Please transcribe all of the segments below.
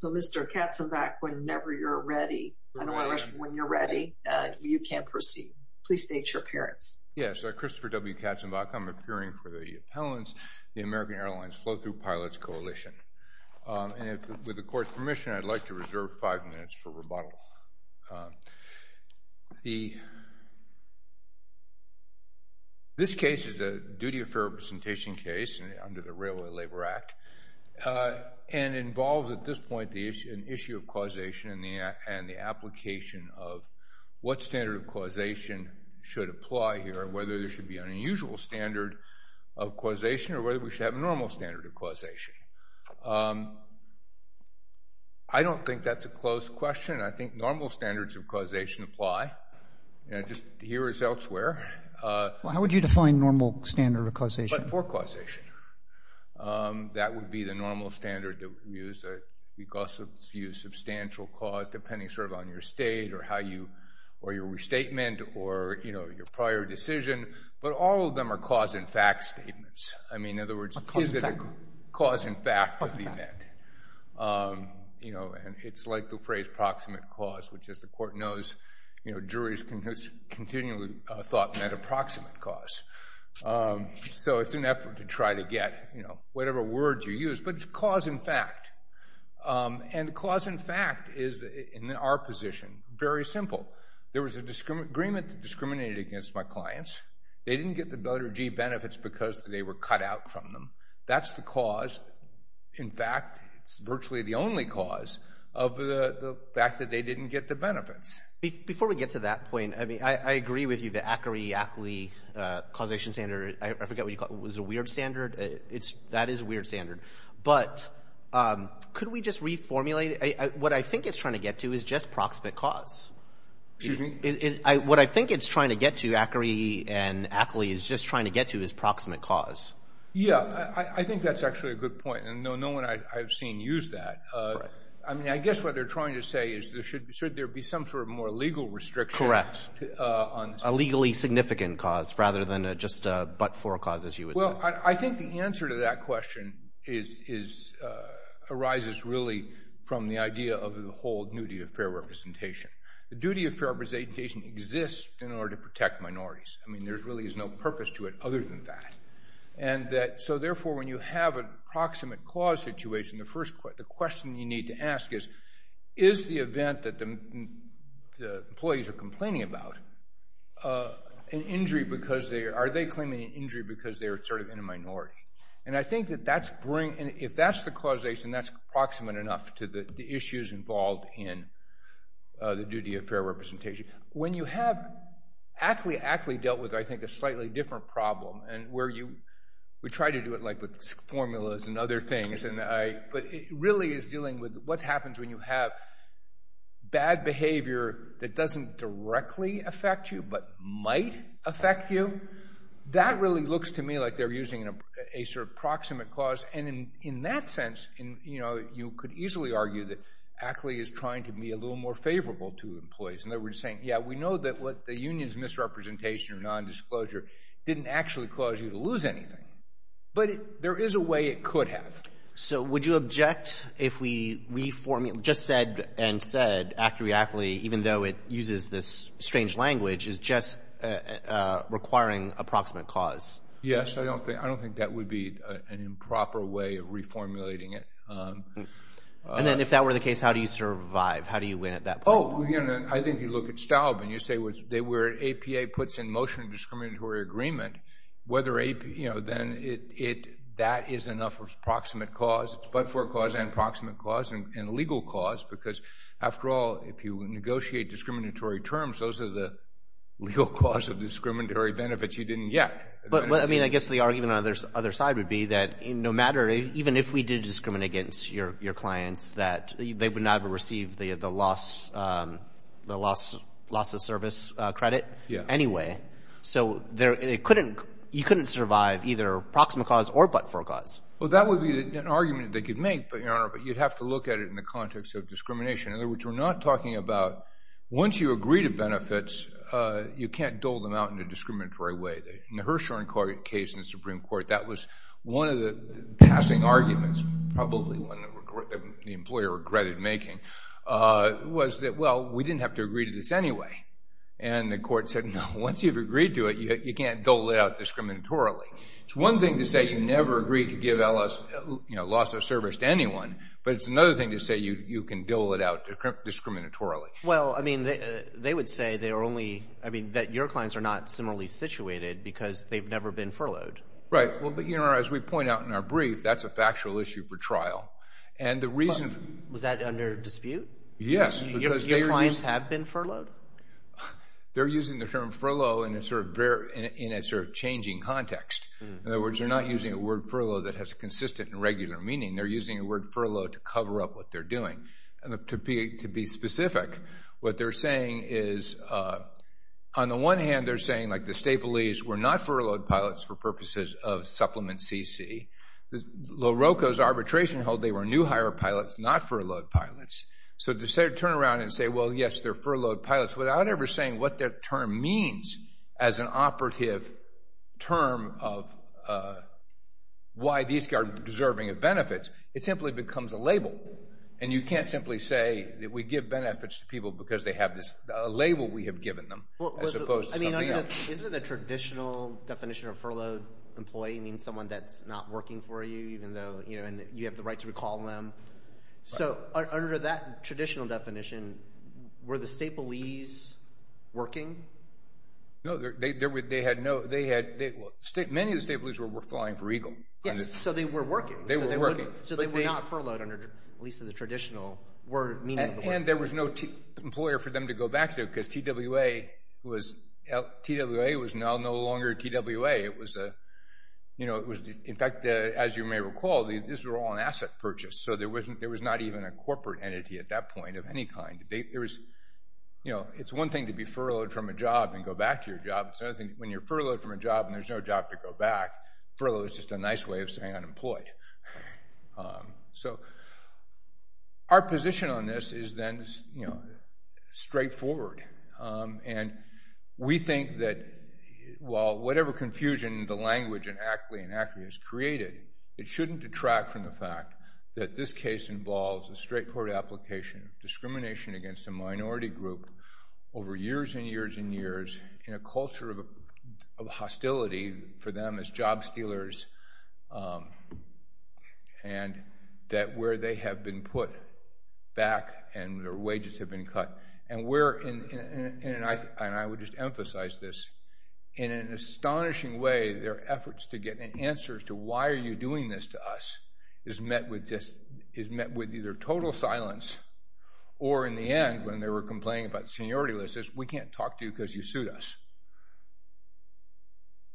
So, Mr. Katzenbach, whenever you're ready, I don't want to rush you. When you're ready, you can proceed. Please state your appearance. Yes, Christopher W. Katzenbach. I'm appearing for the Appellants, the American Airlines Flow-Thru Pilots Coalition. And with the Court's permission, I'd like to reserve five minutes for rebuttal. This case is a duty of fair representation case under the Railway Labor Act and involves, at this point, an issue of causation and the application of what standard of causation should apply here, whether there should be an unusual standard of causation or whether we should have a normal standard of causation. I don't think that's a closed question. I think normal standards of causation apply just here as elsewhere. How would you define normal standard of causation? For causation, that would be the normal standard that we use. We also use substantial cause depending sort of on your state or your restatement or your prior decision. But all of them are cause and fact statements. I mean, in other words, is it a cause and fact of the event? You know, and it's like the phrase proximate cause, which, as the Court knows, you know, juries continually thought met a proximate cause. So it's an effort to try to get, you know, whatever words you use, but it's cause and fact. And cause and fact is, in our position, very simple. There was an agreement that discriminated against my clients. They didn't get the Doherty benefits because they were cut out from them. That's the cause. In fact, it's virtually the only cause of the fact that they didn't get the benefits. Before we get to that point, I mean, I agree with you that ACRI, ACLI causation standard, I forget what you call it, was a weird standard. That is a weird standard. But could we just reformulate it? What I think it's trying to get to is just proximate cause. Excuse me? What I think it's trying to get to, ACRI and ACLI, is just trying to get to is proximate cause. Yeah, I think that's actually a good point, and no one I've seen use that. I mean, I guess what they're trying to say is should there be some sort of more legal restriction on — Correct. A legally significant cause rather than just a but-for cause, as you would say. Well, I think the answer to that question arises really from the idea of the whole duty of fair representation. The duty of fair representation exists in order to protect minorities. I mean, there really is no purpose to it other than that. So therefore, when you have a proximate cause situation, the question you need to ask is, is the event that the employees are complaining about an injury because they — are they claiming an injury because they're sort of in a minority? And I think that that's — if that's the causation, that's proximate enough to the duty of fair representation. When you have — ACLI dealt with, I think, a slightly different problem, and where you — we try to do it, like, with formulas and other things, and I — but it really is dealing with what happens when you have bad behavior that doesn't directly affect you but might affect you. That really looks to me like they're using a sort of proximate cause. And in that sense, you know, you could easily argue that ACLI is trying to be a little more favorable to employees. In other words, saying, yeah, we know that what the union's misrepresentation or nondisclosure didn't actually cause you to lose anything, but there is a way it could have. So would you object if we reform — just said and said, ACLI, even though it uses this strange language, is just requiring a proximate cause? Yes, I don't think that would be an improper way of reformulating it. And then if that were the case, how do you survive? How do you win at that point? Oh, you know, I think you look at Staub, and you say they were — APA puts in motion a discriminatory agreement, whether AP — you know, then it — that is enough of proximate cause, but for a cause and proximate cause and legal cause, because after all, if you negotiate discriminatory terms, those are the legal cause of discriminatory benefits you didn't get. But, I mean, I guess the argument on the other side would be that no matter — even if we did discriminate against your clients, that they would not have received the loss of service credit anyway. So you couldn't survive either proximate cause or but-for cause. Well, that would be an argument they could make, but, Your Honor, you'd have to look at it in the context of discrimination. In other words, we're not talking about once you agree to benefits, you can't dole them out in a discriminatory way. In the Hirshhorn case in the Supreme Court, that was one of the passing arguments, probably one that the employer regretted making, was that, well, we didn't have to agree to this anyway. And the court said, no, once you've agreed to it, you can't dole it out discriminatorily. It's one thing to say you never agreed to give, you know, loss of service to anyone, but it's another thing to say you can dole it out discriminatorily. Well, I mean, they would say they are only, I mean, that your clients are not similarly situated because they've never been furloughed. Right. Well, but, Your Honor, as we point out in our brief, that's a factual issue for trial. And the reason... Was that under dispute? Yes. Because they are using... Your clients have been furloughed? They're using the term furlough in a sort of changing context. In other words, they're not using a word furlough that has a consistent and regular meaning. They're using the word furlough to cover up what they're doing. To be specific, what they're saying is, on the one hand, they're saying, like, the Stapleys were not furloughed pilots for purposes of Supplement CC. Loroco's arbitration hold they were new hire pilots, not furloughed pilots. So to turn around and say, well, yes, they're furloughed pilots, without ever saying what their term means as an operative term of why these are deserving of benefits, it simply becomes a label. And you can't simply say that we give benefits to people because they have this label we have given them, as opposed to something else. I mean, isn't it the traditional definition of furloughed employee means someone that's not working for you, even though, you know, and you have the right to recall them. So under that traditional definition, were the Stapleys working? No, they had no... Well, many of the Stapleys were flying for Eagle. Yes. So they were working. They were working. So they were not furloughed under, at least in the traditional word meaning. And there was no employer for them to go back to because TWA was no longer TWA. It was a, you know, it was, in fact, as you may recall, these were all an asset purchase. So there wasn't, there was not even a corporate entity at that point of any kind. There was, you know, it's one thing to be furloughed from a job and go back to your job. It's another thing when you're furloughed from a job and there's no job to go back, furlough is just a nice way of saying unemployed. So our position on this is then, you know, straightforward. And we think that while whatever confusion the language in ACLI and ACRI has created, it shouldn't detract from the fact that this case involves a straightforward application of discrimination against a minority group over years and years and years in a culture of hostility for them as job stealers and that where they have been put back and their wages have been cut and where, and I would just emphasize this, in an astonishing way their efforts to get answers to why are you doing this to us is met with just, is met with either total silence or in the end when they were complaining about seniority lists we can't talk to you because you sued us.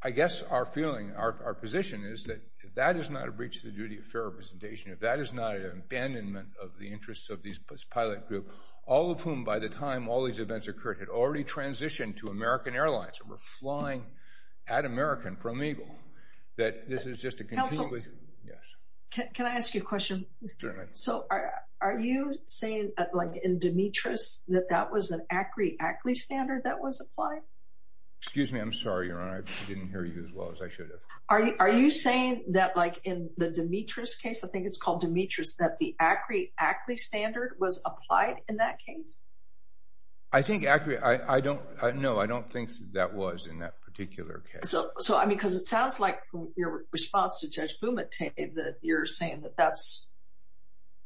I guess our feeling, our position is that if that is not a breach of the duty of fair representation, if that is not an abandonment of the interests of this pilot group, all of whom by the time all these events occurred had already transitioned to American Airlines and were flying at American from EGLE, that this is just a completely- Counselor, can I ask you a question? Certainly. So are you saying like in Demetrius that that was an ACRI-ACLI standard that was applied? Excuse me, I'm sorry, Your Honor, I didn't hear you as well as I should have. Are you saying that like in the Demetrius case, I think it's called Demetrius, that the ACRI-ACLI standard was applied in that case? I think ACRI, I don't, no, I don't think that was in that particular case. So, I mean, because it sounds like your response to Judge Bumate that you're saying that that's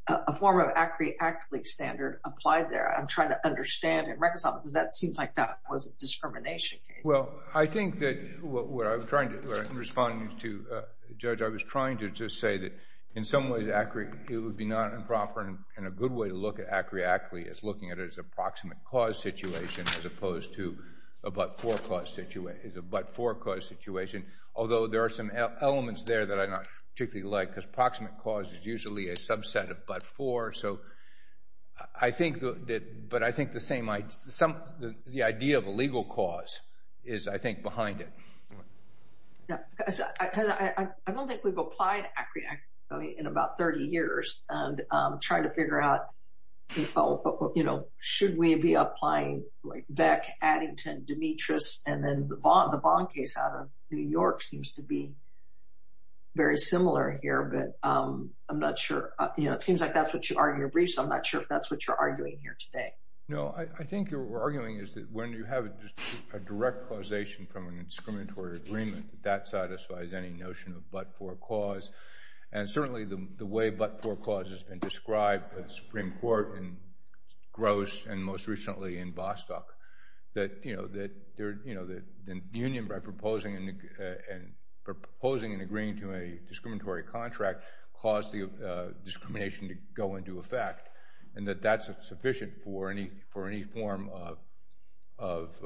a form of ACRI-ACLI standard applied there. I'm trying to understand and reconcile because that seems like that was a discrimination case. Well, I think that what I was trying to respond to, Judge, I was trying to just say that in some ways ACRI, it would be not improper and a good way to look at ACRI-ACLI is looking at it as a proximate cause situation as opposed to a but-for cause situation. Although there are some elements there that I'm not particularly like because proximate cause is usually a subset of but-for. So, I think that, but I think the same, the idea of a legal cause is, I think, behind it. Yeah, because I don't think we've applied ACRI-ACLI in about 30 years and trying to figure out, you know, should we be applying like Beck, Addington, Demetrius, and then the Vaughn case out of New York seems to be very similar here. But I'm not sure, you know, it seems like that's what you argue in your briefs. I'm not sure if that's what you're arguing here today. No, I think what we're arguing is that when you have a direct causation from an discriminatory agreement, that satisfies any notion of but-for cause. And certainly the way but-for cause has been described at the Supreme Court and most recently in Vostok that, you know, the union by proposing and agreeing to a discriminatory contract caused the discrimination to go into effect and that that's sufficient for any form of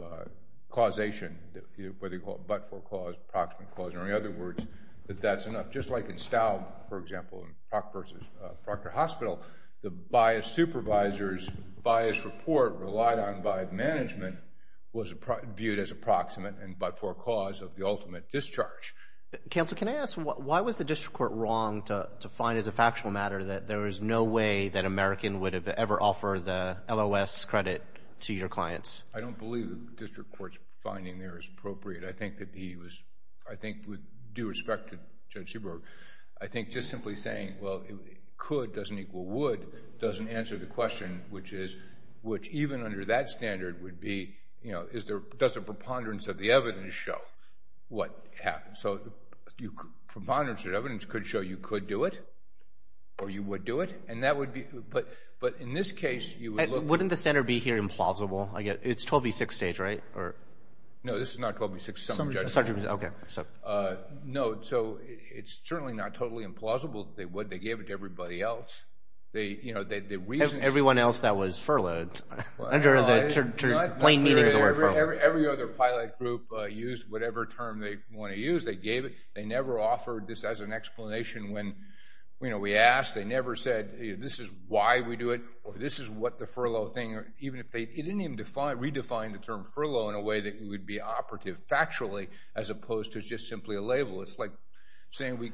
causation, whether you call it but-for cause, proximate cause, or any other words, that that's enough. Just like in Staub, for example, in Proctor Hospital, the biased supervisor's biased report relied on by management was viewed as approximate and but-for cause of the ultimate discharge. Counsel, can I ask, why was the district court wrong to find as a factual matter that there is no way that American would have ever offered the LOS credit to your clients? I don't believe the district court's finding there is appropriate. I think that he was, I think with due respect to Judge Huber, I think just simply saying, well, could doesn't equal would doesn't answer the question, which is, which even under that standard would be, you know, is there, does the preponderance of the evidence show what happened? So the preponderance of evidence could show you could do it or you would do it. And that would be, but, but in this case, you would look. Wouldn't the center be here implausible? I get, it's 12B6 stage, right? Or no, this is not 12B6. Some judge, okay. So no. So it's certainly not totally implausible. They would, they gave it to everybody else. They, you know, they, the reason everyone else that was furloughed under the plain meaning of the word furlough. Every other pilot group used whatever term they want to use. They gave it. They never offered this as an explanation when, you know, we asked, they never said this is why we do it, or this is what the furlough thing, or even if they, it didn't redefine the term furlough in a way that we would be operative factually as opposed to just simply a label. It's like saying we,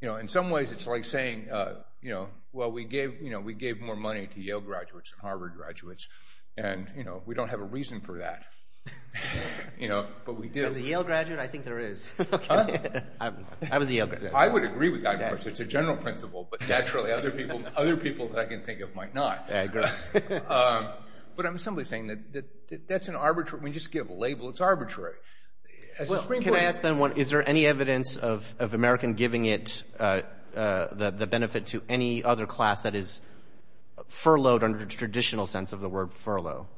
you know, in some ways it's like saying, you know, well, we gave, you know, we gave more money to Yale graduates and Harvard graduates. And, you know, we don't have a reason for that, you know, but we do. As a Yale graduate, I think there is. I was a Yale graduate. I would agree with that, of course, it's a general principle, but naturally other people, other people that I can think of might not. But I'm simply saying that that's an arbitrary, when you just give a label, it's arbitrary. Can I ask then, is there any evidence of American giving it the benefit to any other class that is furloughed under the traditional sense of the word furlough?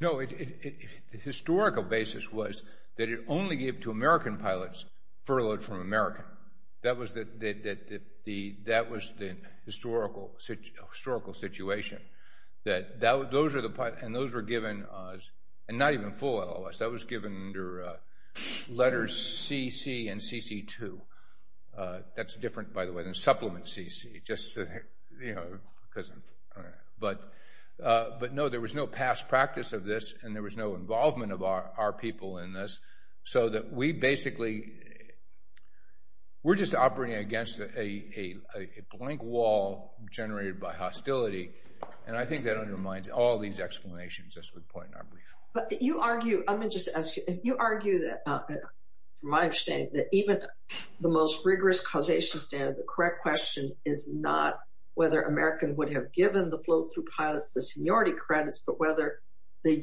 No, the historical basis was that it only gave to American pilots furloughed from American. That was the historical situation. That those are the pilots, and those were given, and not even full LOS, that was given under letters CC and CC2. That's different, by the way, than supplement CC, just, you know, because, but no, there was no past practice of this and there was no involvement of our people in this, so that we basically, we're just operating against a blank wall generated by hostility. And I think that undermines all these explanations, as we point out briefly. But you argue, let me just ask you, you argue that, from my understanding, that even the most rigorous causation standard, the correct question is not whether American would have given the float-through pilots the seniority credits, but whether the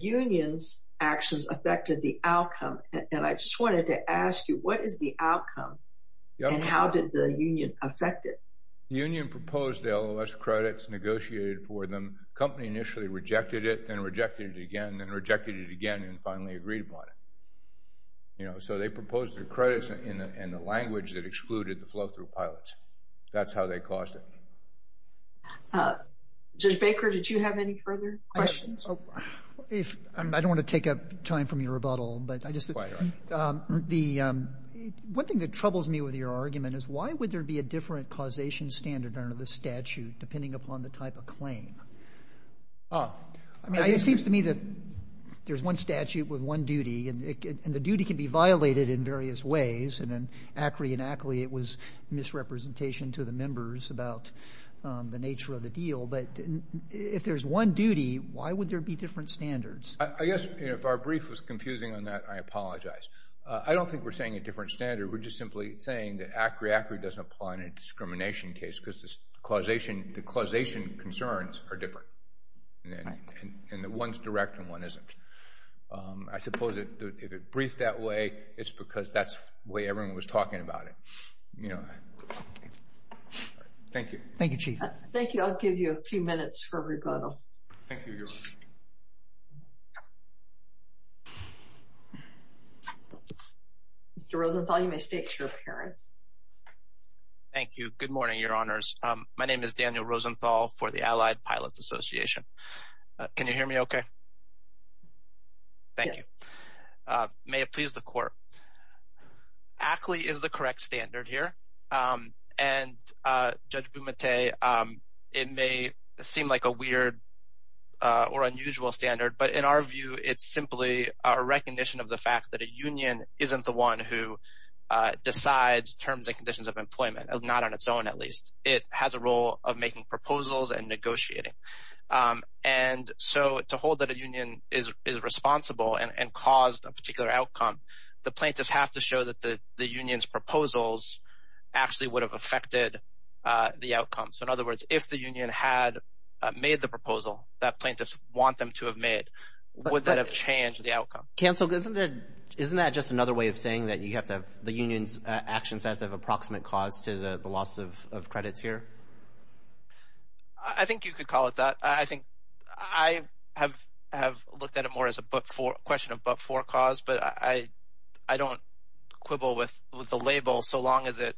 and I just wanted to ask you, what is the outcome, and how did the union affect it? Union proposed the LOS credits, negotiated for them, company initially rejected it, then rejected it again, then rejected it again, and finally agreed upon it. You know, so they proposed their credits in the language that excluded the float-through pilots. That's how they caused it. Judge Baker, did you have any further questions? If, I don't want to take up time from your rebuttal, but I just, the, one thing that troubles me with your argument is why would there be a different causation standard under the statute, depending upon the type of claim? Oh, I mean, it seems to me that there's one statute with one duty, and the duty can be violated in various ways, and then accurately, it was misrepresentation to the members about the nature of the deal, but if there's one duty, why would there be different standards? I guess, you know, if our brief was confusing on that, I apologize. I don't think we're saying a different standard, we're just simply saying that ACRI-ACRI doesn't apply in a discrimination case, because the causation concerns are different, and one's direct and one isn't. I suppose if it's briefed that way, it's because that's the way everyone was talking about it, you know. All right. Thank you. Thank you, Chief. Thank you. I'll give you a few minutes for rebuttal. Thank you, Your Honor. Mr. Rosenthal, you may state your appearance. Thank you. Good morning, Your Honors. My name is Daniel Rosenthal for the Allied Pilots Association. Can you hear me okay? Thank you. May it please the Court. ACRI is the correct standard here, and Judge Bumate, it may seem like a weird or unusual standard, but in our view, it's simply our recognition of the fact that a union isn't the one who decides terms and conditions of employment, not on its own at least. It has a role of making proposals and negotiating. And so to hold that a union is responsible and caused a particular outcome, the plaintiffs have to show that the union's proposals actually would have affected the outcome. So in other words, if the union had made the proposal that plaintiffs want them to have made, would that have changed the outcome? Counsel, isn't that just another way of saying that you have to have the union's actions as of approximate cause to the loss of credits here? I think you could call it that. I have looked at it more as a question of but-for cause, but I don't quibble with the label so long as it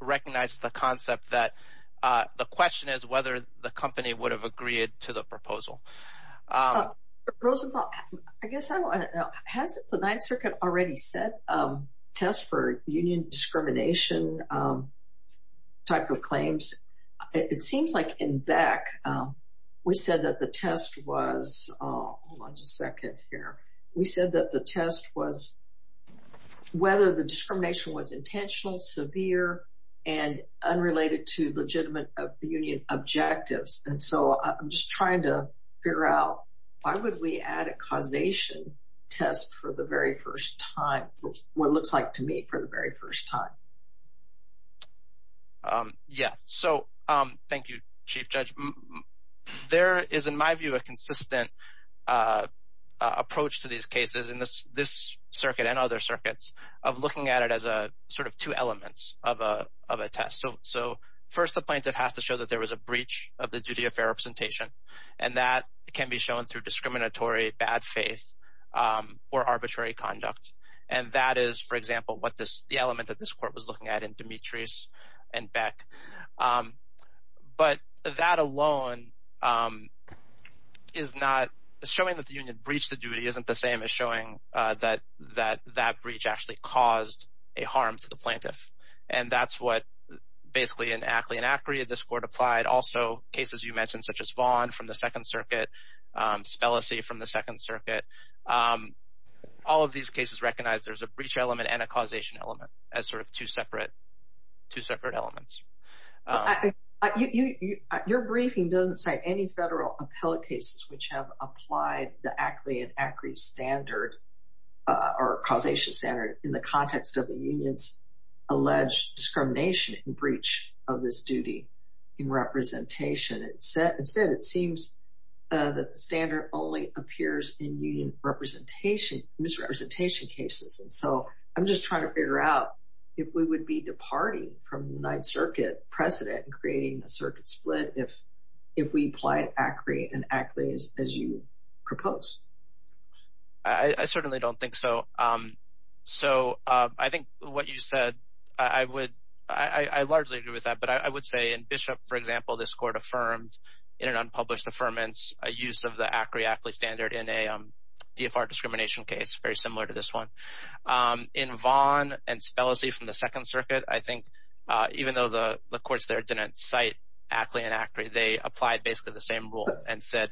recognizes the concept that the question is whether the company would have agreed to the proposal. Rosenthal, I guess I don't know. Has the Ninth Circuit already set tests for union discrimination type of claims? It seems like in Beck, we said that the test was, hold on just a second here. We said that the test was whether the discrimination was intentional, severe, and unrelated to legitimate union objectives. And so I'm just trying to figure out why would we add a causation test for the very first time, what it looks like to me for the very first time. Yeah, so thank you, Chief Judge. There is, in my view, a consistent approach to these cases in this circuit and other circuits of looking at it as a sort of two elements of a test. So first, the plaintiff has to show that there was a breach of the duty of fair representation, and that can be shown through discriminatory, bad faith, or arbitrary conduct. And that is, for example, what this, the element that this Court was looking at in Demetrius and Beck. But that alone is not, showing that the union breached the duty isn't the same as showing that that breach actually caused a harm to the plaintiff. And that's what basically in Ackley and Acri, this Court applied. Also, cases you mentioned such as Vaughn from the Second Circuit, Spellacy from the Second Circuit recognize there's a breach element and a causation element as sort of two separate elements. Your briefing doesn't cite any federal appellate cases which have applied the Ackley and Acri standard or causation standard in the context of the union's alleged discrimination and breach of this duty in representation. Instead, it seems that the standard only appears in union representation, misrepresentation cases. So I'm just trying to figure out if we would be departing from the United Circuit precedent and creating a circuit split if we applied Acri and Ackley as you propose. I certainly don't think so. So I think what you said, I would, I largely agree with that, but I would say in Bishop, for example, this Court affirmed in an unpublished affirmance a use of the Acri-Ackley standard in a DFR discrimination case very similar to this one. In Vaughn and Spellacy from the Second Circuit, I think even though the courts there didn't cite Ackley and Ackley, they applied basically the same rule and said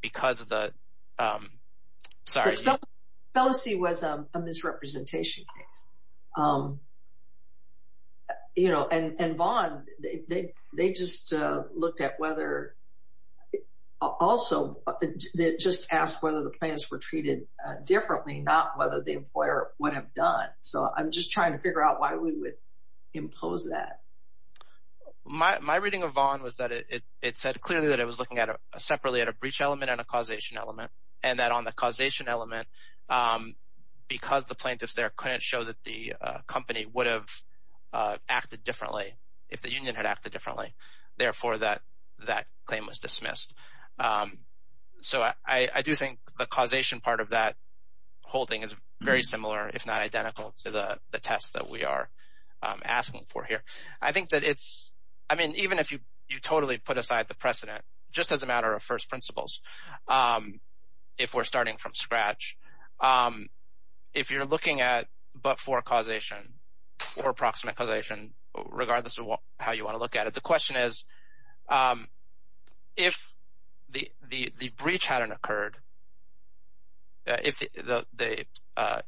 because of the, sorry. But Spellacy was a misrepresentation case. And Vaughn, they just looked at whether, also, they just asked whether the plaintiffs were treated differently, not whether the employer would have done. So I'm just trying to figure out why we would impose that. My reading of Vaughn was that it said clearly that it was looking separately at a breach element and a causation element, and that on the causation element, because the plaintiffs there couldn't show that the company would have acted differently if the union had acted differently. Therefore, that claim was dismissed. So I do think the causation part of that holding is very similar, if not identical, to the test that we are asking for here. I think that it's, I mean, even if you totally put aside the precedent, just as a matter of first principles, if we're starting from scratch, if you're looking at but-for causation or approximate causation, regardless of how you want to look at it, the question is, if the breach hadn't occurred, if the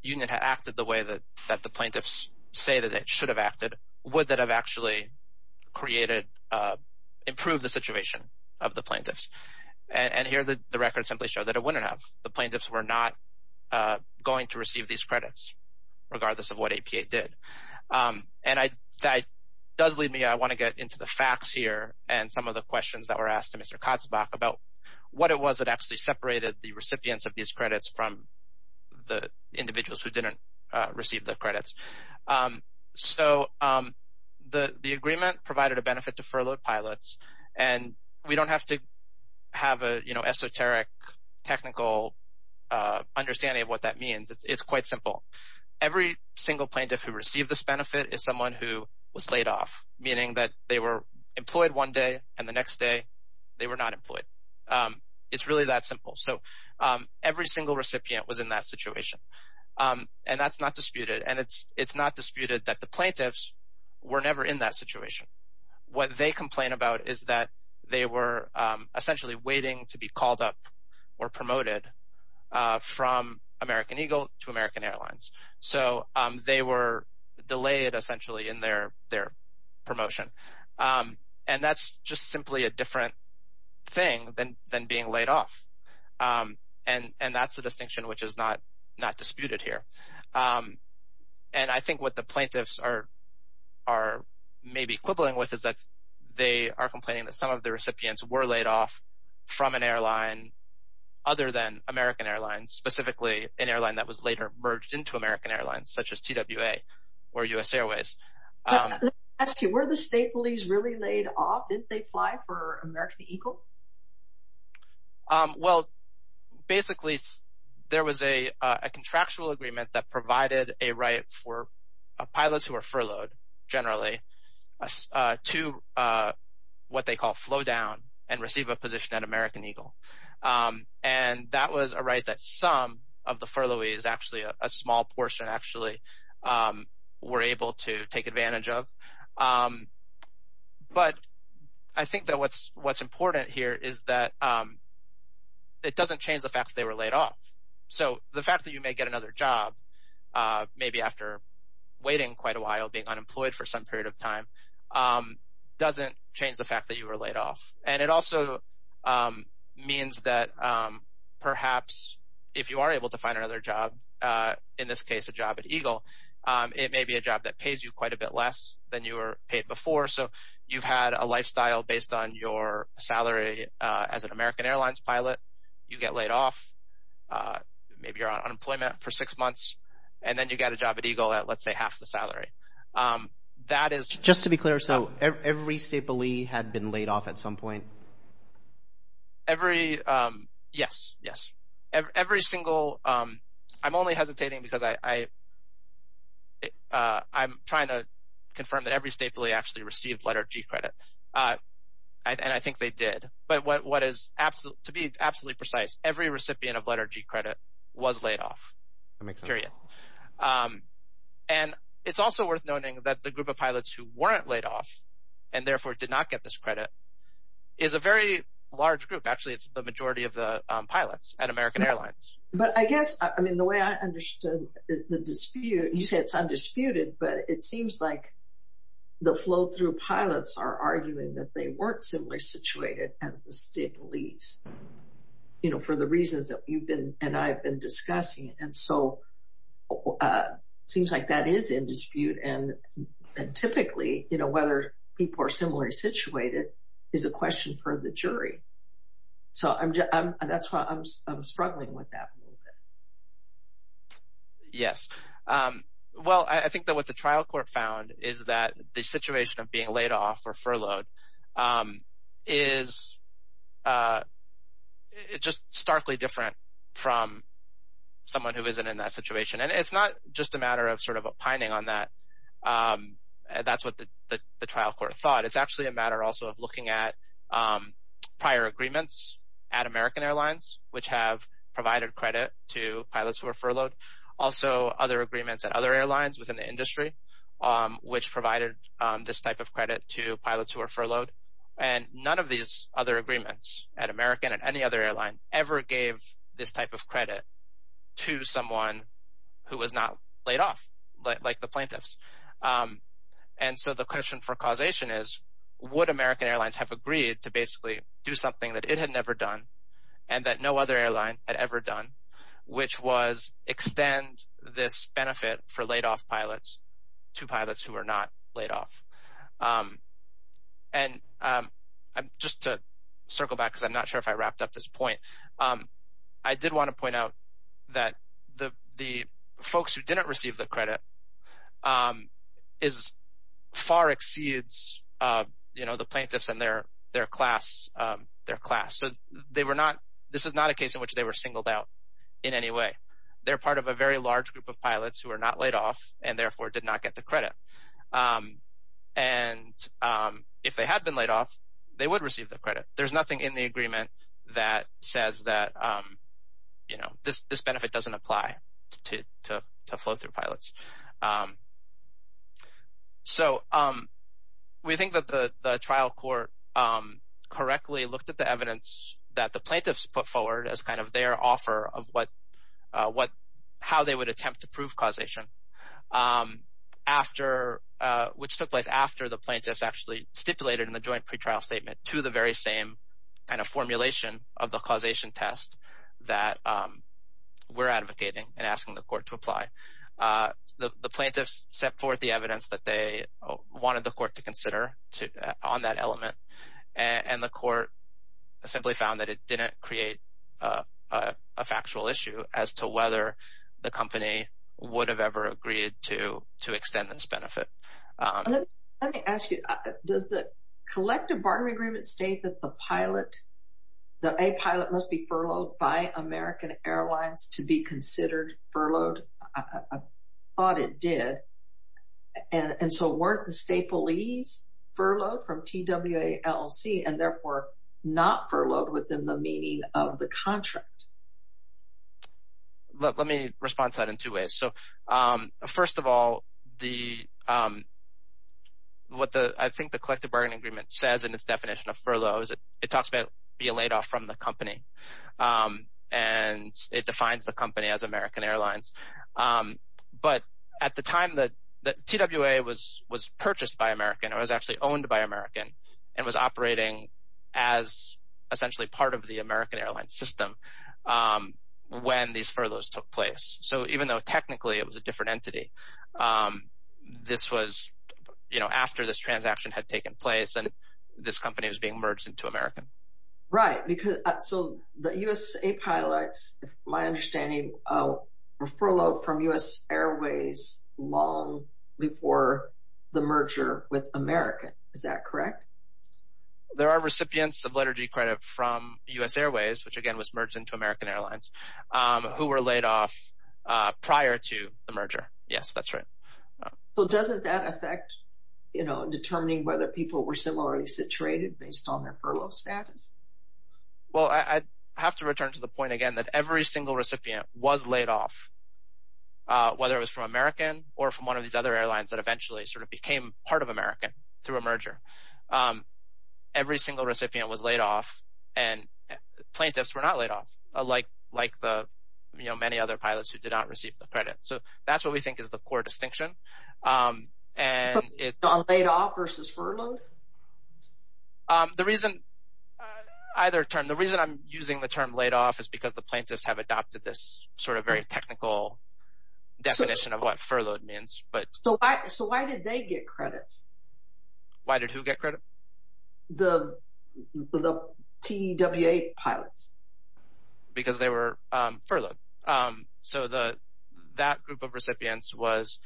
union had acted the way that the plaintiffs say that it should have acted, would that have actually created, improved the situation of the plaintiffs? And here, the records simply show that it wouldn't have. The plaintiffs were not going to receive these credits, regardless of what APA did. And that does lead me, I want to get into the facts here and some of the questions that were asked to Mr. Katzbach about what it was that actually separated the recipients of these credits from the individuals who didn't receive the credits. So, the agreement provided a benefit to furloughed pilots, and we don't have to have an esoteric technical understanding of what that means. It's quite simple. Every single plaintiff who received this benefit is someone who was laid off, meaning that they were employed one day, and the next day, they were not employed. It's really that simple. So, every single recipient was in that situation. And that's not disputed. It's not disputed that the plaintiffs were never in that situation. What they complain about is that they were essentially waiting to be called up or promoted from American Eagle to American Airlines. So, they were delayed, essentially, in their promotion. And that's just simply a different thing than being laid off. And that's the distinction which is not disputed here. And I think what the plaintiffs are maybe quibbling with is that they are complaining that some of the recipients were laid off from an airline other than American Airlines, specifically an airline that was later merged into American Airlines, such as TWA or U.S. Airways. But let me ask you, were the state police really laid off? Didn't they fly for American Eagle? Well, basically, there was a contractual agreement that provided a right for pilots who are furloughed, generally, to what they call flow down and receive a position at American Eagle. And that was a right that some of the furloughees, actually a small portion, actually, were able to take advantage of. But I think that what's important here is that it doesn't change the fact that they were laid off. So, the fact that you may get another job, maybe after waiting quite a while, being unemployed for some period of time, doesn't change the fact that you were laid off. And it also means that, perhaps, if you are able to find another job, in this case, a bit less than you were paid before. So, you've had a lifestyle based on your salary as an American Airlines pilot. You get laid off, maybe you're on unemployment for six months, and then you get a job at Eagle at, let's say, half the salary. That is... Just to be clear, so every state police had been laid off at some point? Every... Yes, yes. Every single... I'm only hesitating because I'm trying to confirm that every state police actually received letter of G-credit. And I think they did. But what is, to be absolutely precise, every recipient of letter of G-credit was laid off. That makes sense. Period. And it's also worth noting that the group of pilots who weren't laid off, and therefore did not get this credit, is a very large group. Actually, it's the majority of the pilots at American Airlines. But I guess, I mean, the way I understood the dispute, you said it's undisputed, but it seems like the flow-through pilots are arguing that they weren't similarly situated as the state police, you know, for the reasons that you've been and I've been discussing. And so, it seems like that is in dispute. And typically, you know, whether people are similarly situated is a question for the jury. So, that's why I'm struggling with that. Yes. Well, I think that what the trial court found is that the situation of being laid off or furloughed is just starkly different from someone who isn't in that situation. And it's not just a matter of sort of opining on that. That's what the trial court thought. It's actually a matter also of looking at prior agreements at American Airlines, which have provided credit to pilots who are furloughed. Also, other agreements at other airlines within the industry, which provided this type of credit to pilots who are furloughed. And none of these other agreements at American and any other airline ever gave this type of credit to someone who was not laid off, like the plaintiffs. And so, the question for causation is, would American Airlines have agreed to basically do something that it had never done and that no other airline had ever done, which was extend this benefit for laid off pilots to pilots who are not laid off? And just to circle back, because I'm not sure if I wrapped up this point, I did want to say that this far exceeds the plaintiffs and their class. So, this is not a case in which they were singled out in any way. They're part of a very large group of pilots who are not laid off and therefore did not get the credit. And if they had been laid off, they would receive the credit. There's nothing in the agreement that says that this benefit doesn't apply to flow-through pilots. So, we think that the trial court correctly looked at the evidence that the plaintiffs put forward as kind of their offer of how they would attempt to prove causation, which took place after the plaintiffs actually stipulated in the joint pretrial statement to the very same kind of formulation of the causation test that we're advocating and asking the court to apply. The plaintiffs set forth the evidence that they wanted the court to consider on that element, and the court simply found that it didn't create a factual issue as to whether the company would have ever agreed to extend this benefit. Let me ask you, does the collective barter agreement state that a pilot must be furloughed by American Airlines to be considered furloughed? I thought it did. And so, weren't the staple ease furloughed from TWALC and therefore not furloughed within the meaning of the contract? Let me respond to that in two ways. So, first of all, what I think the collective bargaining agreement says in its definition of furloughs, it talks about being laid off from the company. And it defines the company as American Airlines. But at the time that TWA was purchased by American, it was actually owned by American and was operating as essentially part of the American Airlines system when these furloughs took place. So, even though technically it was a different entity, this was after this transaction had taken place and this company was being merged into American. Right, so the USA Pilots, my understanding, were furloughed from U.S. Airways long before the merger with American. Is that correct? There are recipients of letter G credit from U.S. Airways, which again was merged into American Airlines, who were laid off prior to the merger. Yes, that's right. So, doesn't that affect determining whether people were similarly situated based on their status? Well, I have to return to the point again that every single recipient was laid off, whether it was from American or from one of these other airlines that eventually sort of became part of American through a merger. Every single recipient was laid off and plaintiffs were not laid off, like the, you know, many other pilots who did not receive the credit. So, that's what we think is the core distinction. But laid off versus furloughed? Um, the reason either term, the reason I'm using the term laid off is because the plaintiffs have adopted this sort of very technical definition of what furloughed means, but. So, why did they get credits? Why did who get credit? The TWA pilots. Because they were furloughed. So, that group of recipients was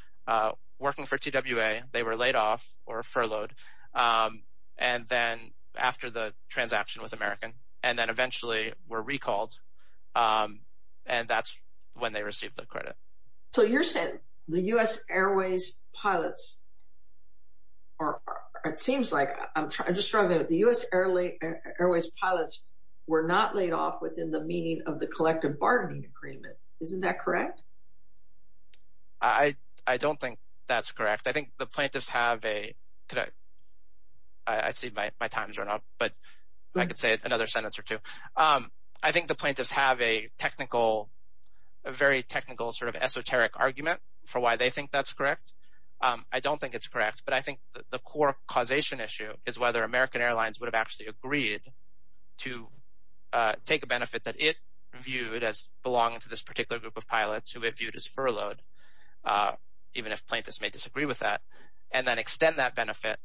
working for TWA, they were laid off or furloughed. And then after the transaction with American, and then eventually were recalled. And that's when they received the credit. So, you're saying the U.S. Airways pilots are, it seems like, I'm just trying to remember, the U.S. Airways pilots were not laid off within the meaning of the collective bargaining agreement. Isn't that correct? I don't think that's correct. I think the plaintiffs have a, could I, I see my time's run out, but I could say another sentence or two. I think the plaintiffs have a technical, a very technical sort of esoteric argument for why they think that's correct. I don't think it's correct. But I think the core causation issue is whether American Airlines would have actually agreed to take a benefit that it viewed as belonging to this particular group of pilots who it disagreed with that, and then extend that benefit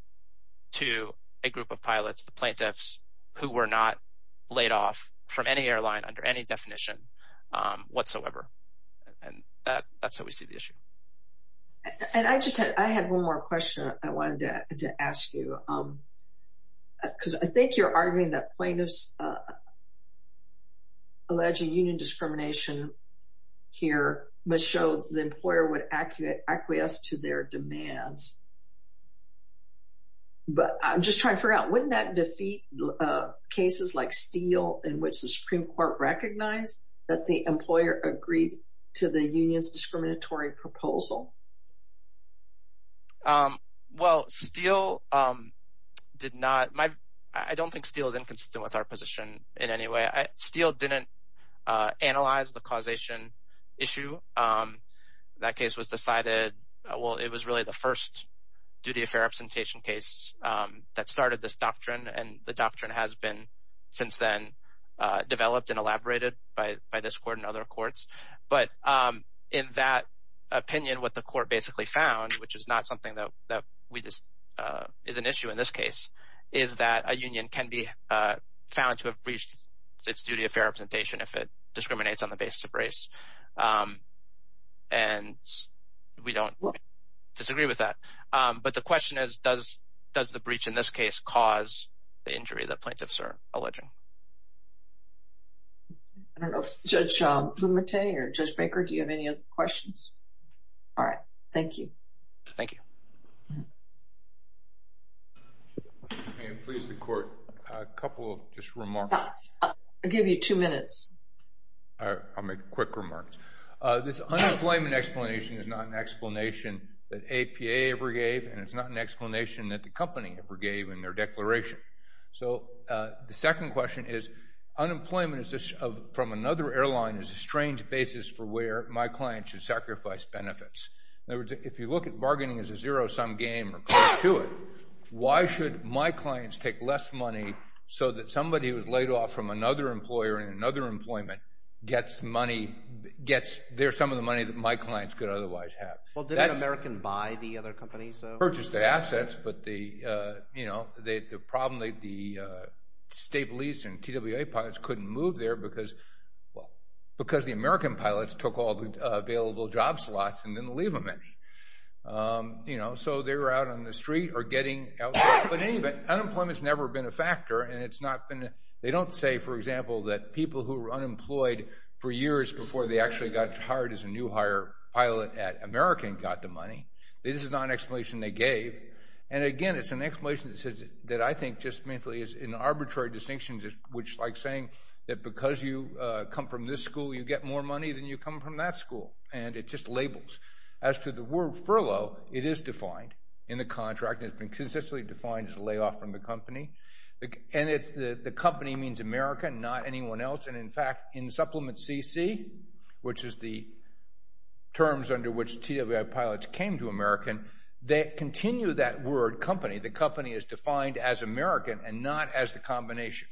to a group of pilots, the plaintiffs, who were not laid off from any airline under any definition whatsoever. And that's how we see the issue. And I just had one more question I wanted to ask you. Because I think you're arguing that plaintiffs alleging union discrimination here must show the employer would acquiesce to their demands. But I'm just trying to figure out, wouldn't that defeat cases like Steele in which the Supreme Court recognized that the employer agreed to the union's discriminatory proposal? Well, Steele did not. I don't think Steele is inconsistent with our position in any way. Steele didn't analyze the causation issue. That case was decided, well, it was really the first duty of fair absentiation case that started this doctrine. And the doctrine has been, since then, developed and elaborated by this court and other courts. But in that opinion, what the court basically found, which is not something that is an issue in this case, is that a union can be found to have breached its duty of fair absentiation if it discriminates on the basis of race. And we don't disagree with that. But the question is, does the breach in this case cause the injury that plaintiffs are alleging? I don't know if Judge Fumate or Judge Baker, do you have any other questions? All right. Thank you. Thank you. And please, the court, a couple of just remarks. I'll give you two minutes. I'll make quick remarks. This unemployment explanation is not an explanation that APA ever gave, and it's not an explanation that the company ever gave in their declaration. So the second question is, unemployment from another airline is a strange basis for where my client should sacrifice benefits. In other words, if you look at bargaining as a zero-sum game or close to it, why should my clients take less money so that somebody who was laid off from another employer in another employment gets money, there's some of the money that my clients could otherwise have? Well, didn't American buy the other companies? Purchased the assets, but the problem, the state lease and TWA pilots couldn't move there because the American pilots took all the available job slots and didn't leave them any. You know, so they were out on the street or getting out. But in any event, unemployment's never been a factor, and it's not been... They don't say, for example, that people who were unemployed for years before they actually got hired as a new hire pilot at American got the money. This is not an explanation they gave. And again, it's an explanation that I think just mainly is an arbitrary distinction, which like saying that because you come from this school, you get more money than you come from that school. And it just labels. As to the word furlough, it is defined in the contract. It's been consistently defined as a layoff from the company. And the company means America, not anyone else. And in fact, in Supplement CC, which is the terms under which TWA pilots came to American, they continue that word company. The company is defined as American and not as the combination.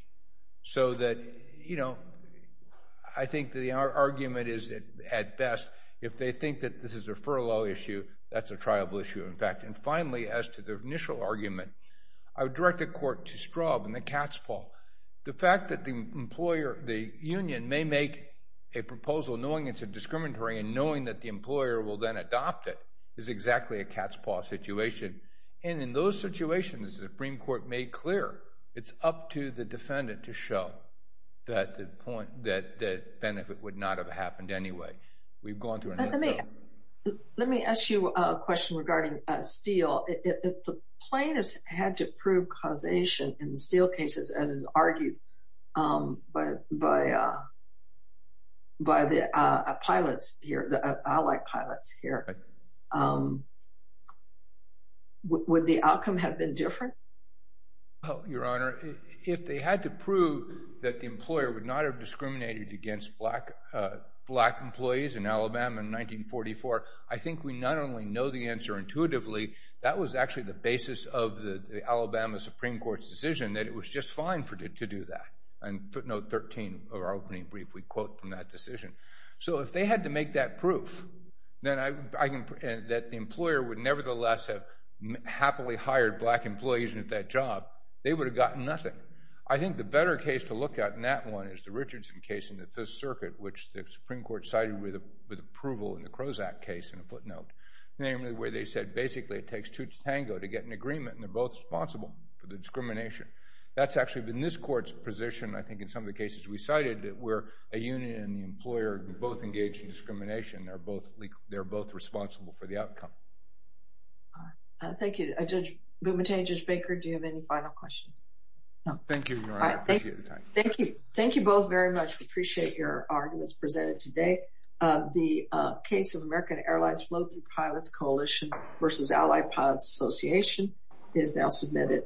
So that, you know, I think the argument is at best, if they think that this is a furlough issue, that's a triable issue. In fact, and finally, as to the initial argument, I would direct the court to Straub and the cat's paw. The fact that the employer, the union may make a proposal knowing it's a discriminatory and knowing that the employer will then adopt it is exactly a cat's paw situation. And in those situations, the Supreme Court made clear, it's up to the defendant to show that the benefit would not have happened anyway. We've gone through it. Let me ask you a question regarding steel. If plaintiffs had to prove causation in the steel cases, as is argued by the pilots here, the allied pilots here, would the outcome have been different? Your Honor, if they had to prove that the employer would not have discriminated against black employees in Alabama in 1944, I think we not only know the answer intuitively, that was actually the basis of the Alabama Supreme Court's decision, that it was just fine to do that. And footnote 13 of our opening brief, we quote from that decision. So if they had to make that proof, that the employer would nevertheless have happily hired black employees at that job, they would have gotten nothing. I think the better case to look at in that one is the Richardson case in the Fifth Circuit, which the Supreme Court cited with approval in the Krozak case in a footnote, namely where they said basically it takes two to tango to get an agreement, and they're both responsible for the discrimination. That's actually been this court's position, I think in some of the cases we cited, that where a union and the employer both engage in discrimination, they're both responsible for the outcome. Thank you. Judge Bumatane, Judge Baker, do you have any final questions? Thank you, Your Honor, I appreciate the time. Thank you. Thank you both very much. We appreciate your arguments presented today. The case of American Airlines Float Through Pilots Coalition versus Allied Pilots Association is now submitted.